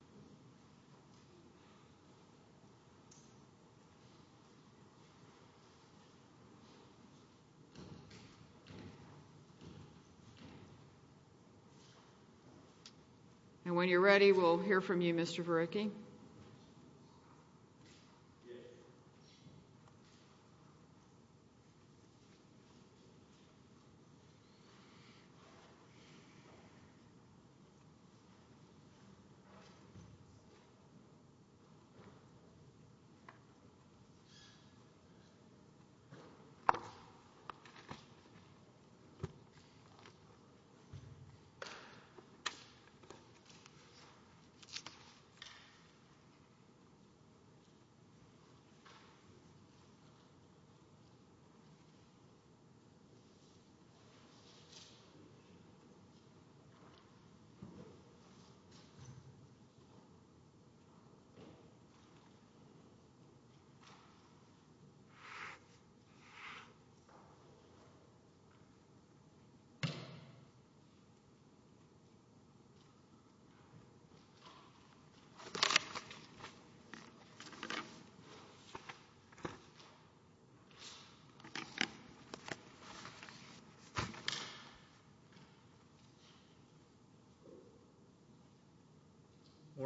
cetera, and when you're ready, we'll hear from you, Mr. Varecki. Mr. Varecki? Yes. Mr. Varecki? Yes. Mr. Varecki? Yes. Good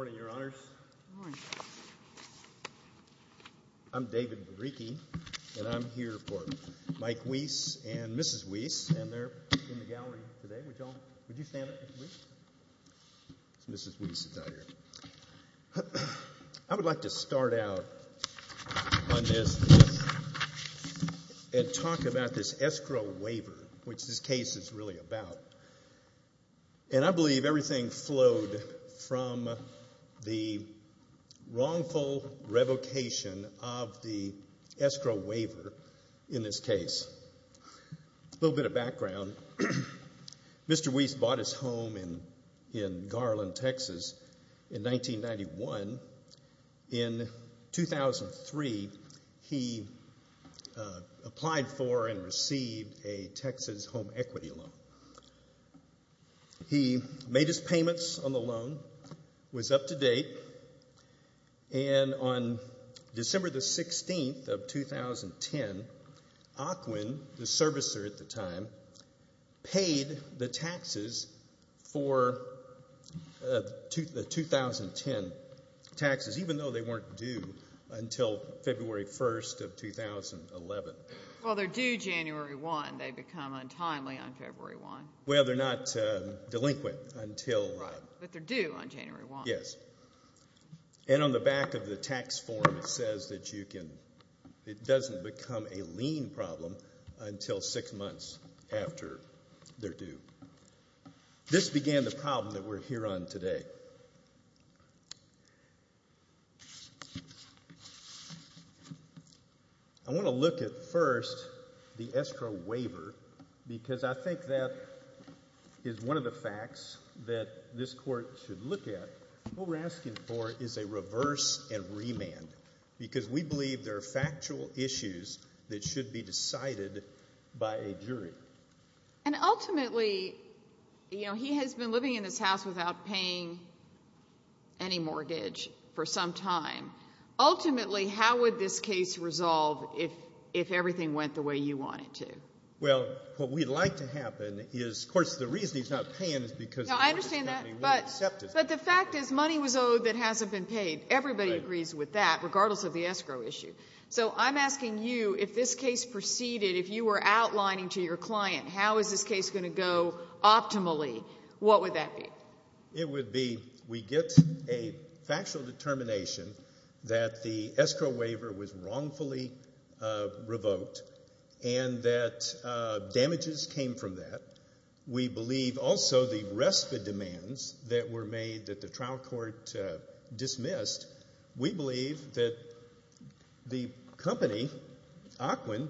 morning, Your Honors. Good morning. I'm David Varecki, and I'm here for Mike Wease and Mrs. Wease, and they're in the gallery today. Would you stand up, please? Mrs. Wease is out here. I would like to start out on this and talk about this escrow waiver, which this case is really about. And I believe everything flowed from the wrongful revocation of the escrow waiver in this case. A little bit of background. Mr. Wease bought his home in Garland, Texas, in 1991. In 2003, he applied for and received a Texas home equity loan. He made his payments on the loan, was up to date, and on December the 16th of 2010, Ocwen, the servicer at the time, paid the taxes for the 2010 taxes, even though they weren't due until February 1st of 2011. Well, they're due January 1. They become untimely on February 1. Well, they're not delinquent until that. Right. But they're due on January 1. Yes. And on the back of the tax form, it says that it doesn't become a lien problem until six months after they're due. This began the problem that we're here on today. I want to look at first the escrow waiver, because I think that is one of the facts that this court should look at. What we're asking for is a reverse and remand, because we believe there are factual issues that should be decided by a jury. And ultimately, you know, he has been living in this house without paying any mortgage for some time. Ultimately, how would this case resolve if everything went the way you want it to? Well, what we'd like to happen is, of course, the reason he's not paying is because the mortgage company won't accept it. But the fact is money was owed that hasn't been paid. Everybody agrees with that, regardless of the escrow issue. So I'm asking you, if this case proceeded, if you were outlining to your client how is this case going to go optimally, what would that be? It would be we get a factual determination that the escrow waiver was wrongfully revoked and that damages came from that. We believe also the RESPA demands that were made that the trial court dismissed, we believe that the company, Aquin,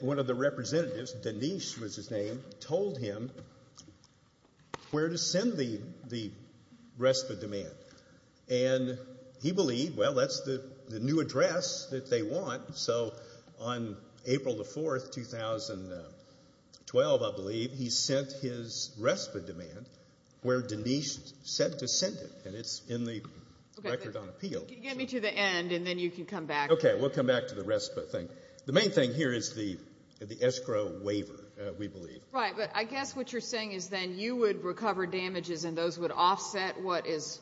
one of the representatives, Denise was his name, told him where to send the RESPA demand. And he believed, well, that's the new address that they want. So on April the 4th, 2012, I believe, he sent his RESPA demand where Denise said to send it. And it's in the record on appeal. Get me to the end and then you can come back. Okay, we'll come back to the RESPA thing. The main thing here is the escrow waiver, we believe. Right, but I guess what you're saying is then you would recover damages and those would offset what is,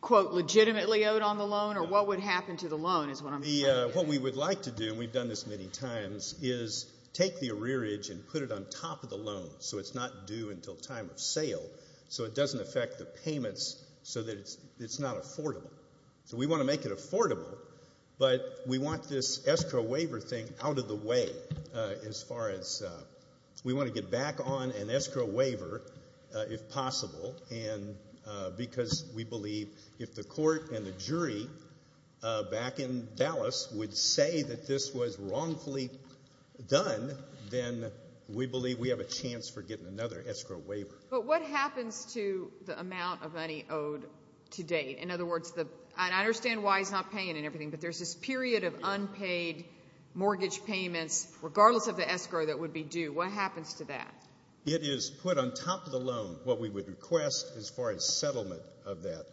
quote, legitimately owed on the loan or what would happen to the loan is what I'm saying. What we would like to do, and we've done this many times, is take the arrearage and put it on top of the loan so it's not due until time of sale, so it doesn't affect the payments so that it's not affordable. So we want to make it affordable, but we want this escrow waiver thing out of the way as far as we want to get back on an escrow waiver if possible because we believe if the court and the jury back in Dallas would say that this was wrongfully done, then we believe we have a chance for getting another escrow waiver. But what happens to the amount of money owed to date? In other words, and I understand why he's not paying and everything, but there's this period of unpaid mortgage payments regardless of the escrow that would be due. What happens to that? It is put on top of the loan. What we would request as far as settlement of that,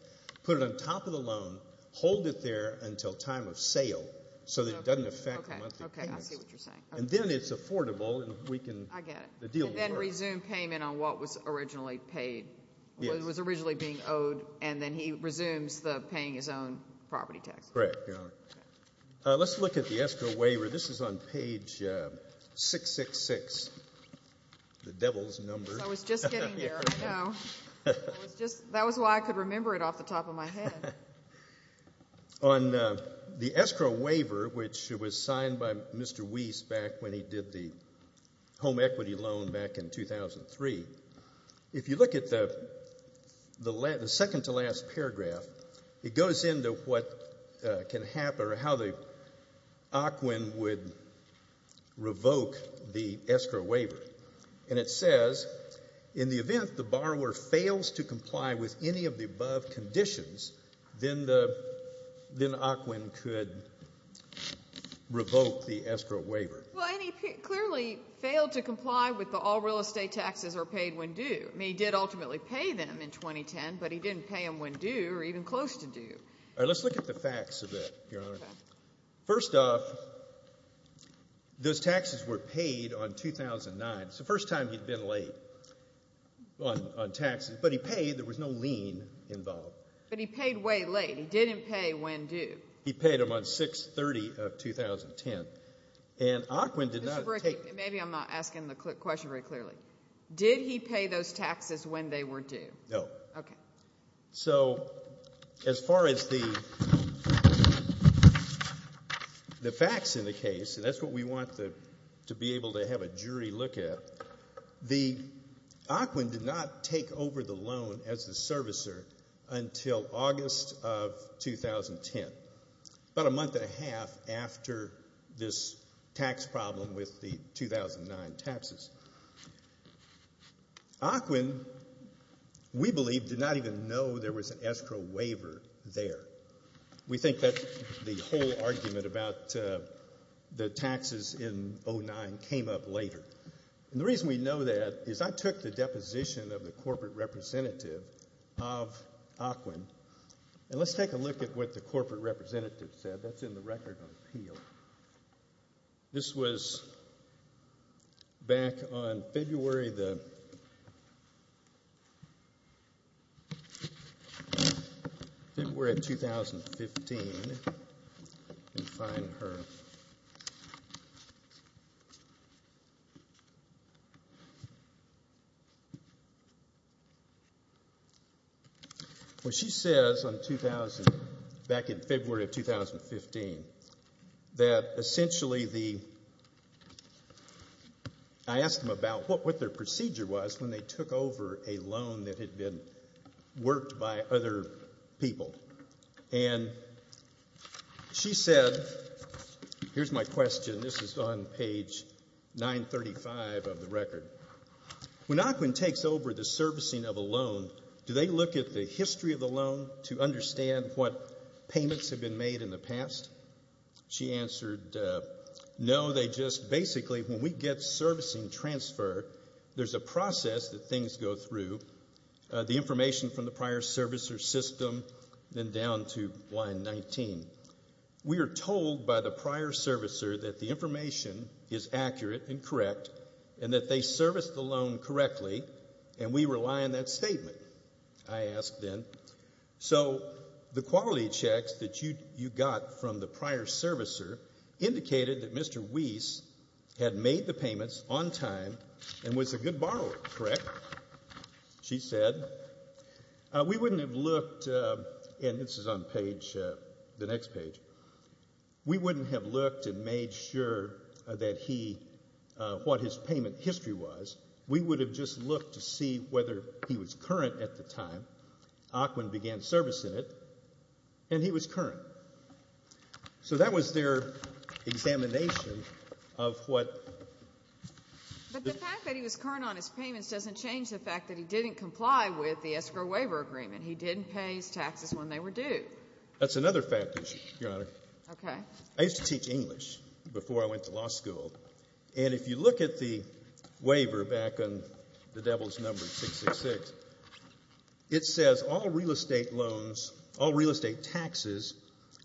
put it on top of the loan, hold it there until time of sale so that it doesn't affect the monthly payments. Okay, I see what you're saying. And then it's affordable and we can deal with it. And then resume payment on what was originally paid, what was originally being owed, and then he resumes paying his own property tax. Correct, Your Honor. Let's look at the escrow waiver. This is on page 666, the devil's number. I was just getting there, I know. That was why I could remember it off the top of my head. On the escrow waiver, which was signed by Mr. Weiss back when he did the home equity loan back in 2003, if you look at the second to last paragraph, it goes into what can happen or how the OCWN would revoke the escrow waiver. And it says, in the event the borrower fails to comply with any of the above conditions, then OCWN could revoke the escrow waiver. Well, and he clearly failed to comply with the all real estate taxes are paid when due. I mean, he did ultimately pay them in 2010, but he didn't pay them when due or even close to due. All right, let's look at the facts of it, Your Honor. Okay. First off, those taxes were paid on 2009. It's the first time he'd been late on taxes, but he paid. There was no lien involved. But he paid way late. He didn't pay when due. He paid them on 6-30 of 2010. And OCWN did not take them. Mr. Brickey, maybe I'm not asking the question very clearly. Did he pay those taxes when they were due? No. Okay. So as far as the facts in the case, and that's what we want to be able to have a jury look at, the OCWN did not take over the loan as the servicer until August of 2010, about a month and a half after this tax problem with the 2009 taxes. OCWN, we believe, did not even know there was an escrow waiver there. We think that the whole argument about the taxes in 2009 came up later. And the reason we know that is I took the deposition of the corporate representative of OCWN, and let's take a look at what the corporate representative said. That's in the Record of Appeal. This was back on February of 2015. Let me find her. Okay. Well, she says on 2000, back in February of 2015, that essentially the ‑‑ I asked them about what their procedure was when they took over a loan that had been worked by other people. And she said, here's my question. This is on page 935 of the record. When OCWN takes over the servicing of a loan, do they look at the history of the loan to understand what payments have been made in the past? She answered, no, they just basically, when we get servicing transfer, there's a process that things go through. The information from the prior servicer system, then down to line 19. We are told by the prior servicer that the information is accurate and correct and that they serviced the loan correctly, and we rely on that statement, I asked then. So the quality checks that you got from the prior servicer indicated that Mr. Weiss had made the payments on time and was a good borrower, correct, she said. We wouldn't have looked, and this is on page, the next page. We wouldn't have looked and made sure that he, what his payment history was. We would have just looked to see whether he was current at the time. OCWN began servicing it, and he was current. So that was their examination of what. But the fact that he was current on his payments doesn't change the fact that he didn't comply with the escrow waiver agreement. He didn't pay his taxes when they were due. That's another fact issue, Your Honor. Okay. I used to teach English before I went to law school, and if you look at the waiver back on the devil's number, 666, it says all real estate loans, all real estate taxes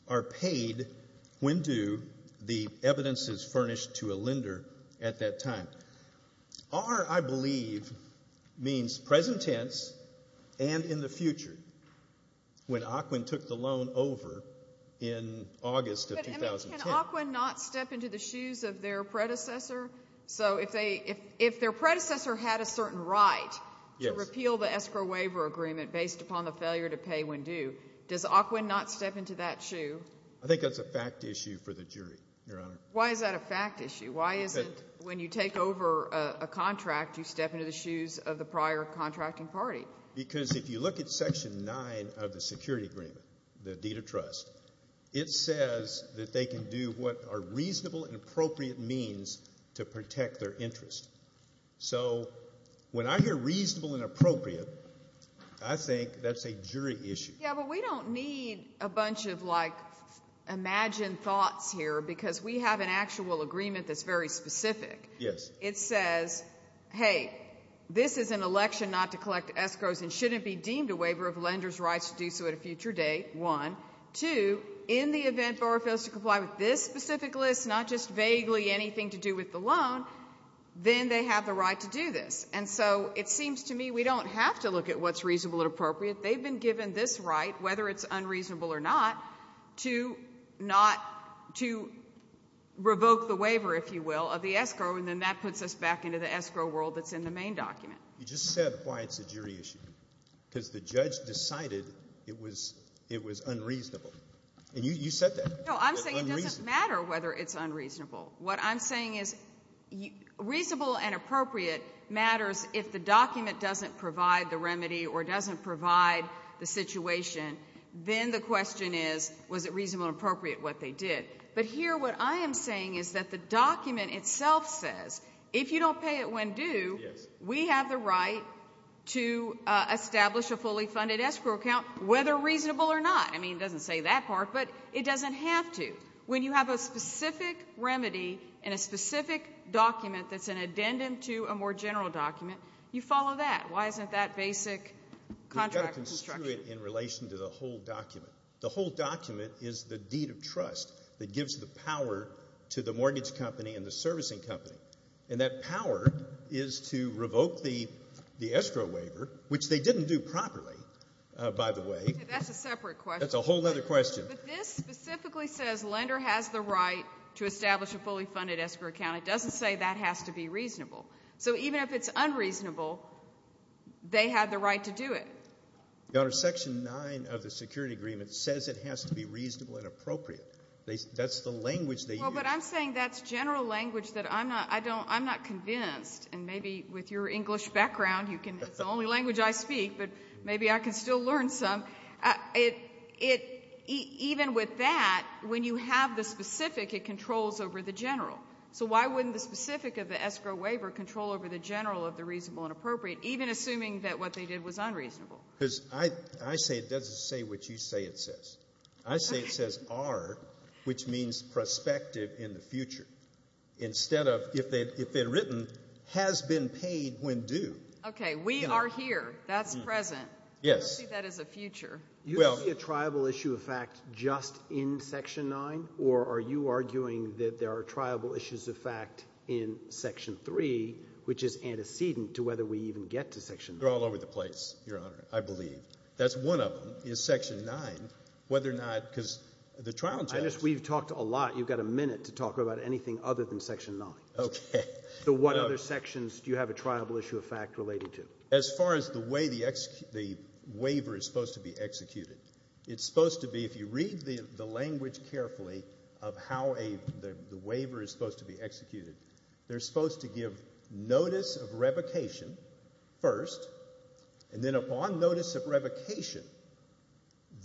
are paid when due. The evidence is furnished to a lender at that time. Our, I believe, means present tense and in the future. When OCWN took the loan over in August of 2010. Can OCWN not step into the shoes of their predecessor? So if their predecessor had a certain right to repeal the escrow waiver agreement based upon the failure to pay when due, does OCWN not step into that shoe? I think that's a fact issue for the jury, Your Honor. Why is that a fact issue? Why is it when you take over a contract, you step into the shoes of the prior contracting party? Because if you look at Section 9 of the security agreement, the deed of trust, it says that they can do what are reasonable and appropriate means to protect their interest. So when I hear reasonable and appropriate, I think that's a jury issue. Yeah, but we don't need a bunch of, like, imagined thoughts here because we have an actual agreement that's very specific. Yes. It says, hey, this is an election not to collect escrows and shouldn't be deemed a waiver of lender's rights to do so at a future date, one. Two, in the event borrower fails to comply with this specific list, not just vaguely anything to do with the loan, then they have the right to do this. And so it seems to me we don't have to look at what's reasonable and appropriate. They've been given this right, whether it's unreasonable or not, to not to revoke the waiver, if you will, of the escrow, and then that puts us back into the escrow world that's in the main document. You just said why it's a jury issue, because the judge decided it was unreasonable, and you said that. No, I'm saying it doesn't matter whether it's unreasonable. What I'm saying is reasonable and appropriate matters if the document doesn't provide the remedy or doesn't provide the situation, then the question is was it reasonable and appropriate what they did. But here what I am saying is that the document itself says if you don't pay it when due, we have the right to establish a fully funded escrow account, whether reasonable or not. I mean, it doesn't say that part, but it doesn't have to. When you have a specific remedy in a specific document that's an addendum to a more general document, you follow that. Why isn't that basic contract construction? You've got to construe it in relation to the whole document. The whole document is the deed of trust that gives the power to the mortgage company and the servicing company, and that power is to revoke the escrow waiver, which they didn't do properly, by the way. That's a separate question. That's a whole other question. But this specifically says lender has the right to establish a fully funded escrow account. It doesn't say that has to be reasonable. So even if it's unreasonable, they had the right to do it. Your Honor, Section 9 of the Security Agreement says it has to be reasonable and appropriate. That's the language they use. Well, but I'm saying that's general language that I'm not convinced, and maybe with your English background, it's the only language I speak, but maybe I can still learn some. Even with that, when you have the specific, it controls over the general. So why wouldn't the specific of the escrow waiver control over the general of the reasonable and appropriate, even assuming that what they did was unreasonable? Because I say it doesn't say what you say it says. I say it says are, which means prospective in the future, instead of if it had written has been paid when due. Okay. We are here. That's present. Yes. I don't see that as a future. Do you see a triable issue of fact just in Section 9, or are you arguing that there are triable issues of fact in Section 3, which is antecedent to whether we even get to Section 9? They're all over the place, Your Honor, I believe. That's one of them, is Section 9, whether or not, because the trial justice. We've talked a lot. You've got a minute to talk about anything other than Section 9. Okay. So what other sections do you have a triable issue of fact related to? As far as the way the waiver is supposed to be executed, it's supposed to be, if you read the language carefully of how the waiver is supposed to be executed, they're supposed to give notice of revocation first, and then upon notice of revocation,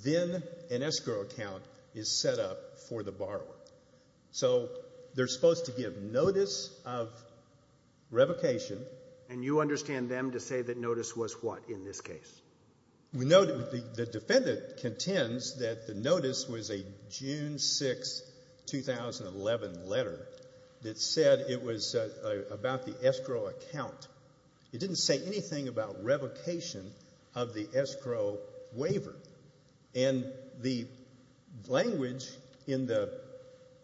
then an escrow account is set up for the borrower. So they're supposed to give notice of revocation. And you understand them to say that notice was what in this case? The defendant contends that the notice was a June 6, 2011 letter that said it was about the escrow account. It didn't say anything about revocation of the escrow waiver. And the language in the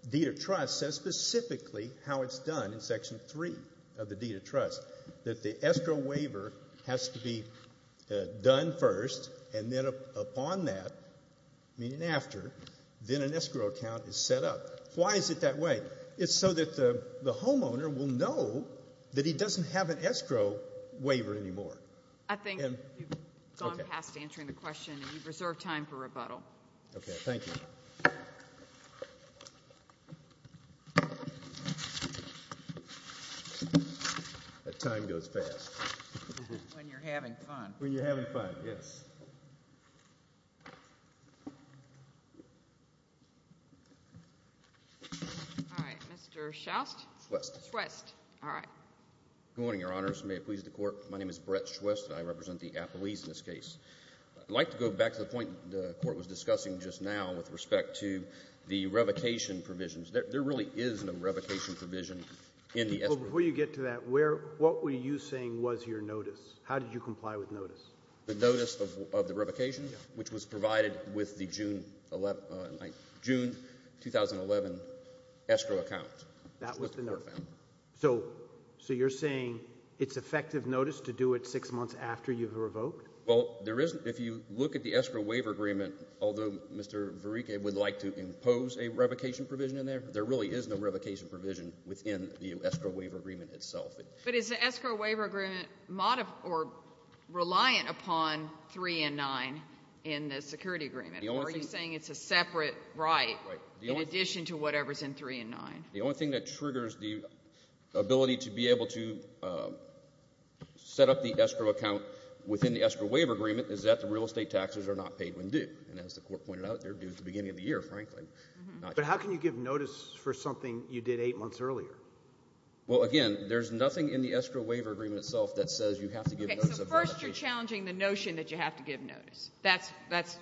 deed of trust says specifically how it's done in Section 3 of the deed of trust, that the escrow waiver has to be done first, and then upon that, meaning after, then an escrow account is set up. Why is it that way? It's so that the homeowner will know that he doesn't have an escrow waiver anymore. I think you've gone past answering the question, and you've reserved time for rebuttal. Okay. Thank you. That time goes fast. When you're having fun. When you're having fun, yes. All right. Mr. Schwest? Schwest. Schwest. All right. Good morning, Your Honors. May it please the Court. My name is Brett Schwest, and I represent the Appalese in this case. I'd like to go back to the point the Court was discussing just now with respect to the revocation provisions. There really is no revocation provision in the escrow. Before you get to that, what were you saying was your notice? How did you comply with notice? The notice of the revocation, which was provided with the June 2011 escrow account. That was the notice. So you're saying it's effective notice to do it six months after you've revoked? Well, if you look at the escrow waiver agreement, although Mr. Verriquez would like to impose a revocation provision in there, there really is no revocation provision within the escrow waiver agreement itself. But is the escrow waiver agreement reliant upon 3 and 9 in the security agreement, or are you saying it's a separate right in addition to whatever's in 3 and 9? The only thing that triggers the ability to be able to set up the escrow account within the escrow waiver agreement is that the real estate taxes are not paid when due. And as the Court pointed out, they're due at the beginning of the year, frankly. But how can you give notice for something you did eight months earlier? Well, again, there's nothing in the escrow waiver agreement itself that says you have to give notice of revocation. Okay, so first you're challenging the notion that you have to give notice. That's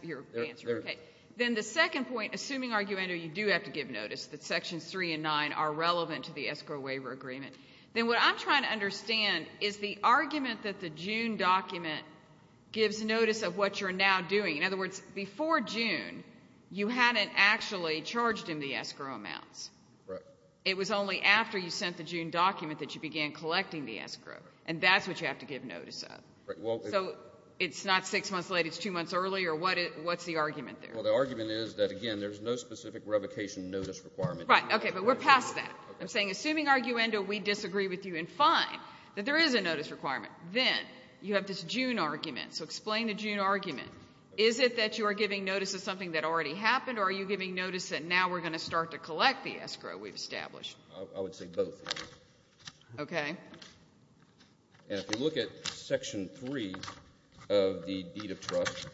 your answer. Then the second point, assuming, argumentatively, you do have to give notice that Sections 3 and 9 are relevant to the escrow waiver agreement, then what I'm trying to understand is the argument that the June document gives notice of what you're now doing. In other words, before June, you hadn't actually charged him the escrow amounts. It was only after you sent the June document that you began collecting the escrow, and that's what you have to give notice of. So it's not six months late, it's two months early, or what's the argument there? Well, the argument is that, again, there's no specific revocation notice requirement. Right, okay, but we're past that. I'm saying assuming, arguendo, we disagree with you in fine, that there is a notice requirement, then you have this June argument, so explain the June argument. Is it that you are giving notice of something that already happened, or are you giving notice that now we're going to start to collect the escrow we've established? I would say both. Okay. And if you look at Section 3 of the deed of trust,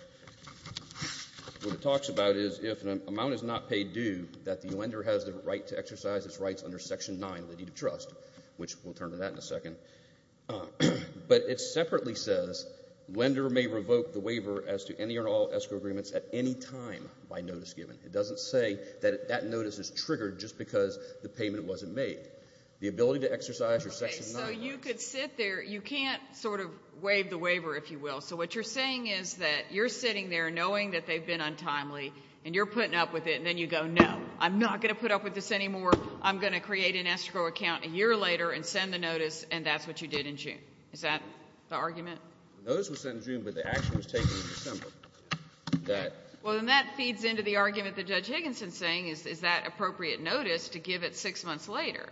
what it talks about is if an amount is not paid due, that the lender has the right to exercise its rights under Section 9 of the deed of trust, which we'll turn to that in a second. But it separately says lender may revoke the waiver as to any or all escrow agreements at any time by notice given. It doesn't say that that notice is triggered just because the payment wasn't made. The ability to exercise your Section 9 rights. Okay, so you could sit there. You can't sort of waive the waiver, if you will. So what you're saying is that you're sitting there knowing that they've been untimely, and you're putting up with it, and then you go, no, I'm not going to put up with this anymore. I'm going to create an escrow account a year later and send the notice, and that's what you did in June. Is that the argument? The notice was sent in June, but the action was taken in December. Well, then that feeds into the argument that Judge Higginson is saying is that appropriate notice to give it six months later.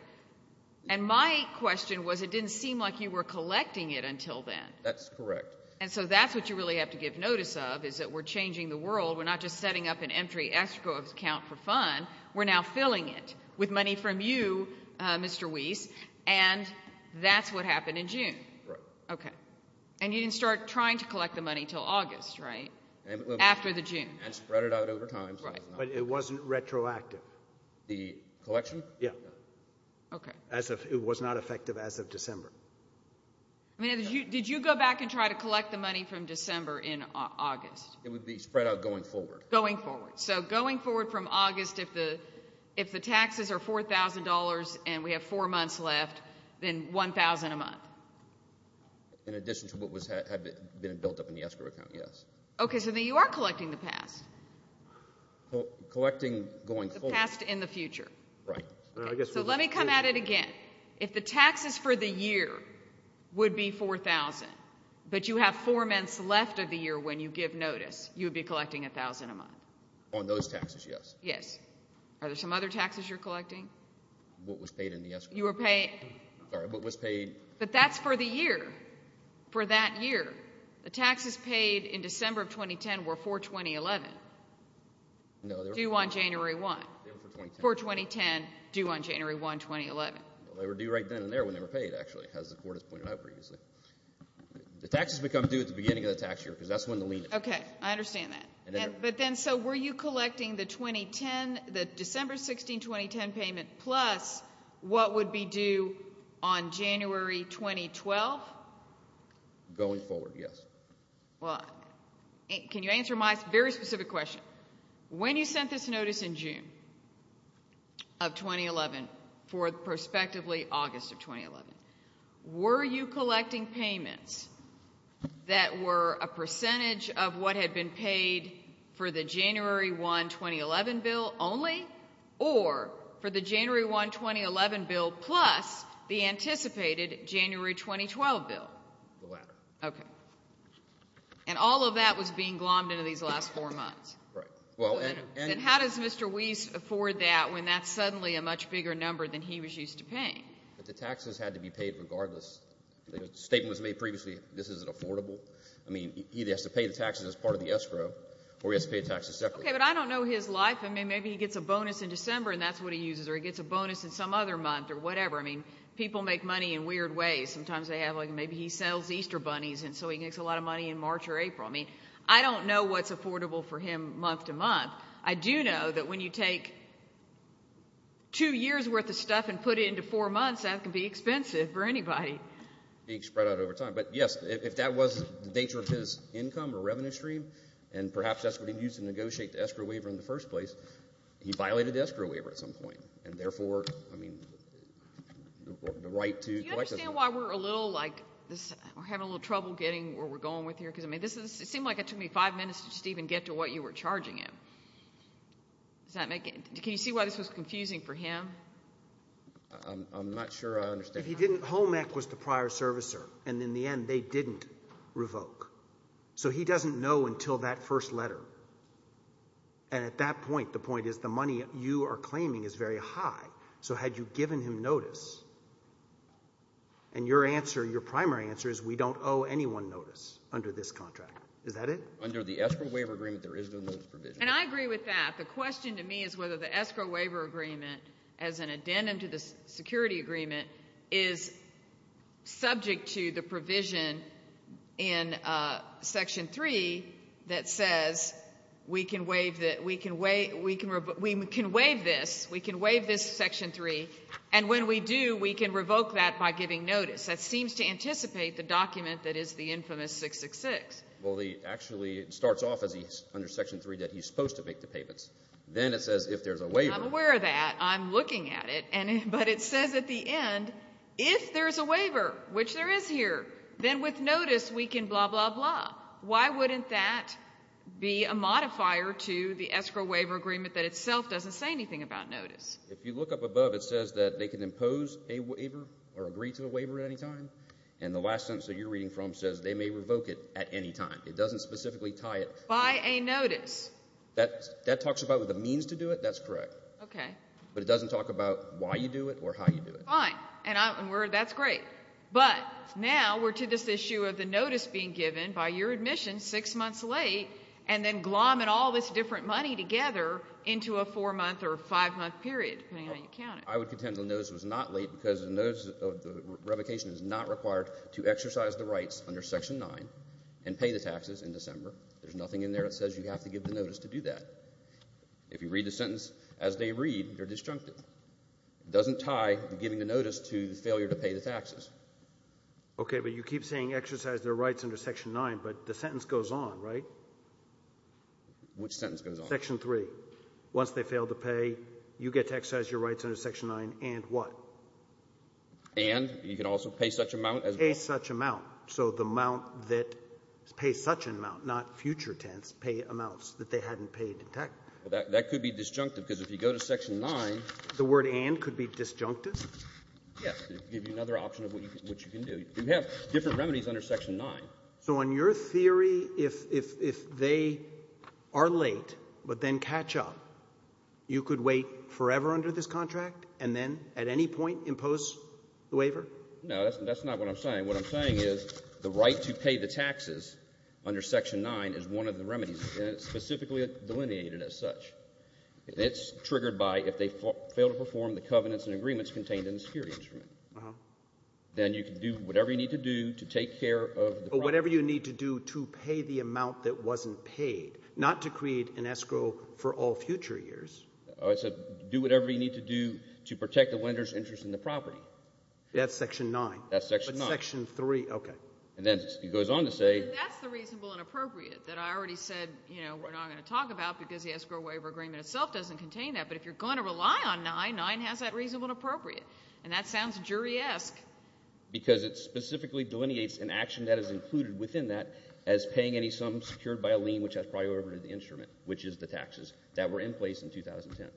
And my question was it didn't seem like you were collecting it until then. That's correct. And so that's what you really have to give notice of is that we're changing the world. We're not just setting up an empty escrow account for fun. We're now filling it with money from you, Mr. Weiss, and that's what happened in June. Right. Okay. And you didn't start trying to collect the money until August, right, after the June? And spread it out over time. But it wasn't retroactive. The collection? Yeah. Okay. It was not effective as of December. Did you go back and try to collect the money from December in August? It would be spread out going forward. Going forward. So going forward from August, if the taxes are $4,000 and we have four months left, then $1,000 a month? In addition to what had been built up in the escrow account, yes. Okay. So then you are collecting the past. Collecting going forward. The past and the future. Right. So let me come at it again. If the taxes for the year would be $4,000, but you have four months left of the year when you give notice, you would be collecting $1,000 a month? On those taxes, yes. Yes. Are there some other taxes you're collecting? What was paid in the escrow? You were paid. Sorry, what was paid? But that's for the year, for that year. The taxes paid in December of 2010 were for 2011. No, they were for 2010. Due on January 1. They were for 2010. For 2010, due on January 1, 2011. They were due right then and there when they were paid, actually, as the Court has pointed out previously. The taxes become due at the beginning of the tax year because that's when the lien is. Okay. I understand that. But then, so were you collecting the 2010, the December 16, 2010 payment, plus what would be due on January 2012? Going forward, yes. Well, can you answer my very specific question? When you sent this notice in June of 2011 for prospectively August of 2011, were you collecting payments that were a percentage of what had been paid for the January 1, 2011 bill only, or for the January 1, 2011 bill plus the anticipated January 2012 bill? The latter. Okay. And all of that was being glommed into these last four months. Right. And how does Mr. Weiss afford that when that's suddenly a much bigger number than he was used to paying? The taxes had to be paid regardless. The statement was made previously, this isn't affordable. I mean, he either has to pay the taxes as part of the escrow or he has to pay the taxes separately. Okay, but I don't know his life. I mean, maybe he gets a bonus in December and that's what he uses, or he gets a bonus in some other month or whatever. I mean, people make money in weird ways. Sometimes they have, like, maybe he sells Easter bunnies, and so he makes a lot of money in March or April. I mean, I don't know what's affordable for him month to month. I do know that when you take two years' worth of stuff and put it into four months, that can be expensive for anybody. It can spread out over time. But, yes, if that was the nature of his income or revenue stream, and perhaps that's what he used to negotiate the escrow waiver in the first place, he violated the escrow waiver at some point, and therefore, I mean, the right to collect it. Do you understand why we're a little, like, we're having a little trouble getting where we're going with here? Because, I mean, it seemed like it took me five minutes to even get to what you were charging him. Can you see why this was confusing for him? I'm not sure I understand. If he didn't, HOMEC was the prior servicer, and in the end, they didn't revoke. So he doesn't know until that first letter. And at that point, the point is the money you are claiming is very high. So had you given him notice, and your answer, your primary answer is we don't owe anyone notice under this contract. Is that it? Under the escrow waiver agreement, there is no notice provision. And I agree with that. The question to me is whether the escrow waiver agreement, as an addendum to the security agreement, is subject to the provision in Section 3 that says we can waive this, we can waive this Section 3, and when we do, we can revoke that by giving notice. That seems to anticipate the document that is the infamous 666. Well, actually, it starts off under Section 3 that he's supposed to make the payments. Then it says if there's a waiver. I'm aware of that. I'm looking at it. But it says at the end, if there's a waiver, which there is here, then with notice we can blah, blah, blah. Why wouldn't that be a modifier to the escrow waiver agreement that itself doesn't say anything about notice? If you look up above, it says that they can impose a waiver or agree to a waiver at any time. And the last sentence that you're reading from says they may revoke it at any time. It doesn't specifically tie it. By a notice. That talks about the means to do it. That's correct. Okay. But it doesn't talk about why you do it or how you do it. Fine. And that's great. But now we're to this issue of the notice being given by your admission six months late and then glomming all this different money together into a four-month or five-month period, depending on how you count it. I would contend the notice was not late because the revocation is not required to exercise the rights under Section 9 and pay the taxes in December. There's nothing in there that says you have to give the notice to do that. If you read the sentence as they read, you're disjuncted. It doesn't tie giving the notice to the failure to pay the taxes. Okay, but you keep saying exercise their rights under Section 9, but the sentence goes on, right? Which sentence goes on? Section 3. Once they fail to pay, you get to exercise your rights under Section 9 and what? And you can also pay such amount as well. Pay such amount. So the amount that pays such an amount, not future tenths, pay amounts that they hadn't paid in tax. Well, that could be disjunctive because if you go to Section 9. The word and could be disjunctive? Yes. It would give you another option of what you can do. You have different remedies under Section 9. So in your theory, if they are late but then catch up, you could wait forever under this contract and then at any point impose the waiver? No, that's not what I'm saying. What I'm saying is the right to pay the taxes under Section 9 is one of the remedies, and it's specifically delineated as such. It's triggered by if they fail to perform the covenants and agreements contained in the security instrument. Then you can do whatever you need to do to take care of the property. Whatever you need to do to pay the amount that wasn't paid, not to create an escrow for all future years. I said do whatever you need to do to protect the lender's interest in the property. That's Section 9. That's Section 9. But Section 3, okay. And then it goes on to say— That's the reasonable and appropriate that I already said we're not going to talk about because the escrow waiver agreement itself doesn't contain that. But if you're going to rely on 9, 9 has that reasonable and appropriate, and that sounds jury-esque. Because it specifically delineates an action that is included within that as paying any sum secured by a lien, which has priority over the instrument, which is the taxes, that were in place in 2010.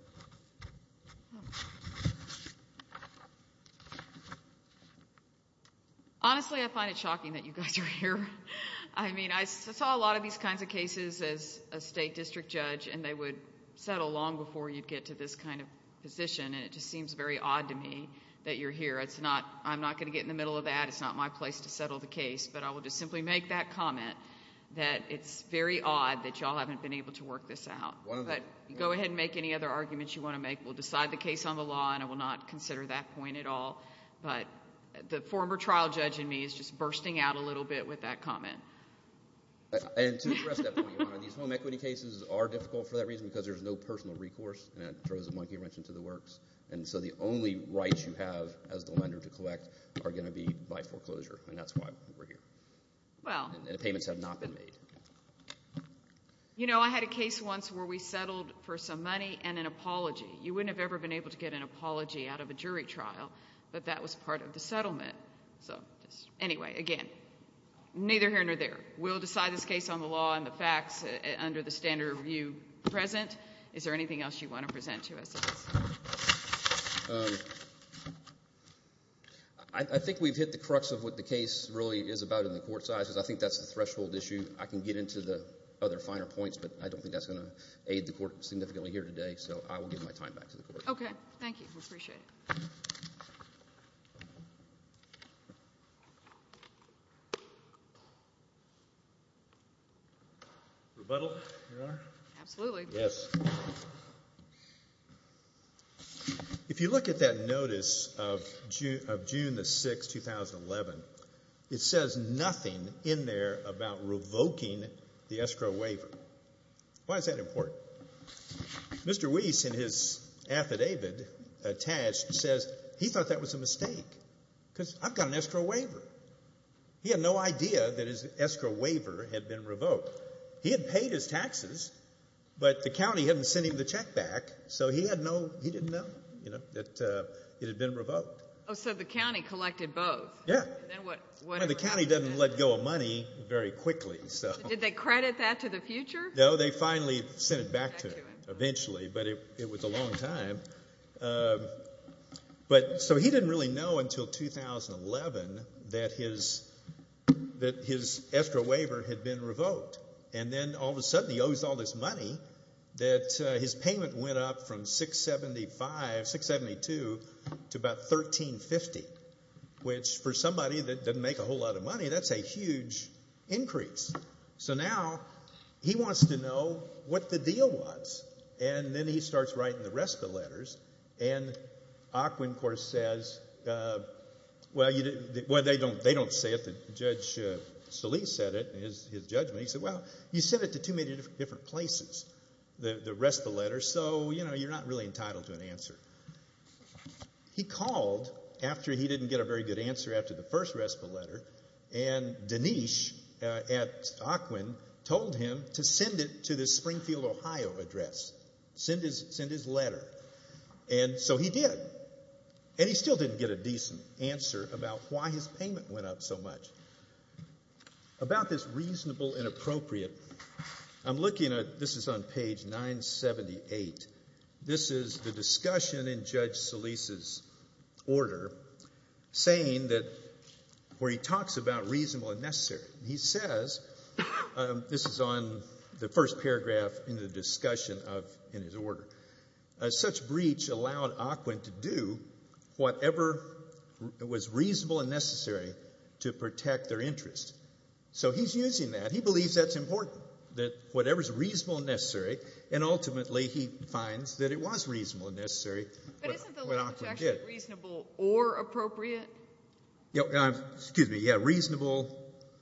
Honestly, I find it shocking that you guys are here. I mean I saw a lot of these kinds of cases as a state district judge, and they would settle long before you'd get to this kind of position, and it just seems very odd to me that you're here. I'm not going to get in the middle of that. It's not my place to settle the case. But I will just simply make that comment that it's very odd that you all haven't been able to work this out. But go ahead and make any other arguments you want to make. We'll decide the case on the law, and I will not consider that point at all. But the former trial judge in me is just bursting out a little bit with that comment. And to address that point, Your Honor, these home equity cases are difficult for that reason because there's no personal recourse, and it throws a monkey wrench into the works. And so the only rights you have as the lender to collect are going to be by foreclosure, and that's why we're here, and the payments have not been made. You know, I had a case once where we settled for some money and an apology. You wouldn't have ever been able to get an apology out of a jury trial, but that was part of the settlement. Anyway, again, neither here nor there. We'll decide this case on the law and the facts under the standard of view present. Is there anything else you want to present to us? I think we've hit the crux of what the case really is about in the court side, because I think that's the threshold issue. I can get into the other finer points, but I don't think that's going to aid the court significantly here today. So I will give my time back to the court. Okay. Thank you. We appreciate it. Rebuttal, Your Honor? Absolutely. Yes. If you look at that notice of June 6, 2011, it says nothing in there about revoking the escrow waiver. Why is that important? Mr. Weiss, in his affidavit attached, says he thought that was a mistake, because I've got an escrow waiver. He had no idea that his escrow waiver had been revoked. He had paid his taxes, but the county hadn't sent him the check back, so he didn't know that it had been revoked. Oh, so the county collected both. Yes. The county doesn't let go of money very quickly. Did they credit that to the future? No, they finally sent it back to him, eventually, but it was a long time. So he didn't really know until 2011 that his escrow waiver had been revoked, and then all of a sudden he owes all this money that his payment went up from $6.75, $6.72, to about $13.50, which for somebody that doesn't make a whole lot of money, that's a huge increase. So now he wants to know what the deal was, and then he starts writing the RESPA letters, and Ocwen, of course, says, well, they don't say it. Judge Salih said it in his judgment. He said, well, you sent it to too many different places, the RESPA letters, so you're not really entitled to an answer. He called after he didn't get a very good answer after the first RESPA letter, and Dinesh at Ocwen told him to send it to this Springfield, Ohio address, send his letter. And so he did, and he still didn't get a decent answer about why his payment went up so much. About this reasonable and appropriate, I'm looking at, this is on page 978. This is the discussion in Judge Salih's order saying that where he talks about reasonable and necessary, he says, this is on the first paragraph in the discussion in his order, such breach allowed Ocwen to do whatever was reasonable and necessary to protect their interest. So he's using that. He believes that's important, that whatever's reasonable and necessary, and ultimately he finds that it was reasonable and necessary when Ocwen did. But isn't the language actually reasonable or appropriate? Excuse me. Yeah, reasonable.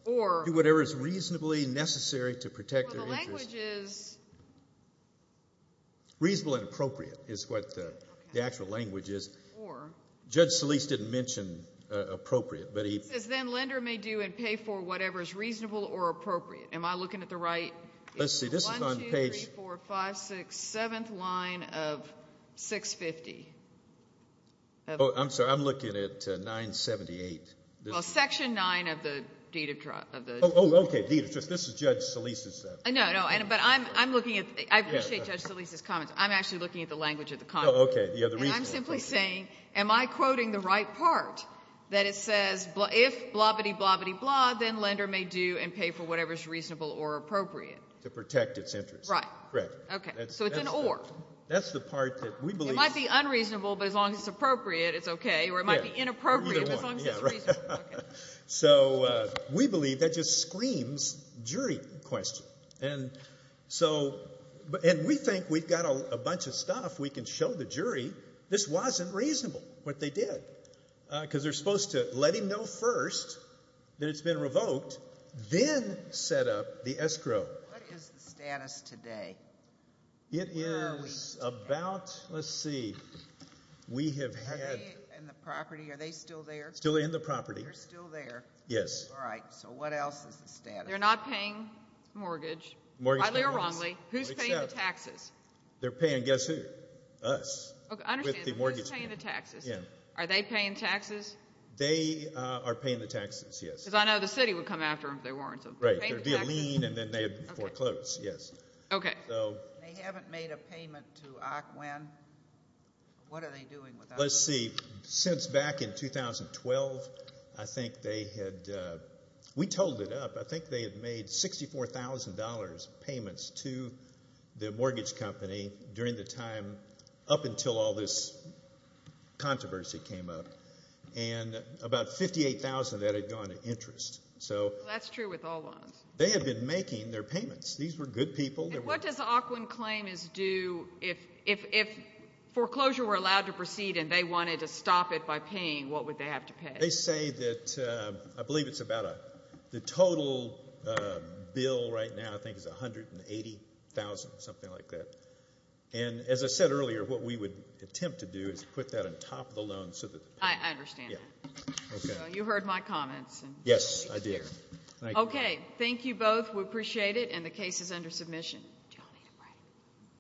Or. Do whatever is reasonably necessary to protect their interest. The language is. Reasonable and appropriate is what the actual language is. Or. Judge Salih didn't mention appropriate, but he. He says, then lender may do and pay for whatever is reasonable or appropriate. Am I looking at the right? Let's see, this is on page. One, two, three, four, five, six, seventh line of 650. I'm sorry, I'm looking at 978. Section nine of the deed of trial. Oh, okay, this is Judge Salih's. No, no, but I'm looking at, I appreciate Judge Salih's comments. I'm actually looking at the language of the comment. Oh, okay, the other reason. And I'm simply saying, am I quoting the right part? That it says, if blah-biddy, blah-biddy, blah, then lender may do and pay for whatever is reasonable or appropriate. To protect its interest. Right. Correct. Okay, so it's an or. That's the part that we believe. It might be unreasonable, but as long as it's appropriate, it's okay. Or it might be inappropriate, but as long as it's reasonable, okay. So we believe that just screams jury question. And so, and we think we've got a bunch of stuff we can show the jury, this wasn't reasonable, what they did. Because they're supposed to let him know first that it's been revoked, then set up the escrow. What is the status today? It is about, let's see, we have had. Are they in the property? Are they still there? Still in the property. They're still there. Yes. All right, so what else is the status? They're not paying mortgage. Rightly or wrongly. Who's paying the taxes? They're paying, guess who? Us. Okay, I understand. Who's paying the taxes? Yeah. Are they paying taxes? They are paying the taxes, yes. Because I know the city would come after them if they weren't. Right. They would pay a lien and then they would foreclose, yes. Okay. They haven't made a payment to OCWEN. What are they doing with OCWEN? Let's see. Since back in 2012, I think they had, we totaled it up, I think they had made $64,000 payments to the mortgage company during the time up until all this controversy came up, and about $58,000 of that had gone to interest. That's true with all loans. They had been making their payments. These were good people. What does OCWEN claim is due if foreclosure were allowed to proceed and they wanted to stop it by paying, what would they have to pay? They say that, I believe it's about, the total bill right now I think is $180,000, something like that. And as I said earlier, what we would attempt to do is put that on top of the loan. I understand that. You heard my comments. Yes, I did. Okay, thank you both. We appreciate it. And the case is under submission.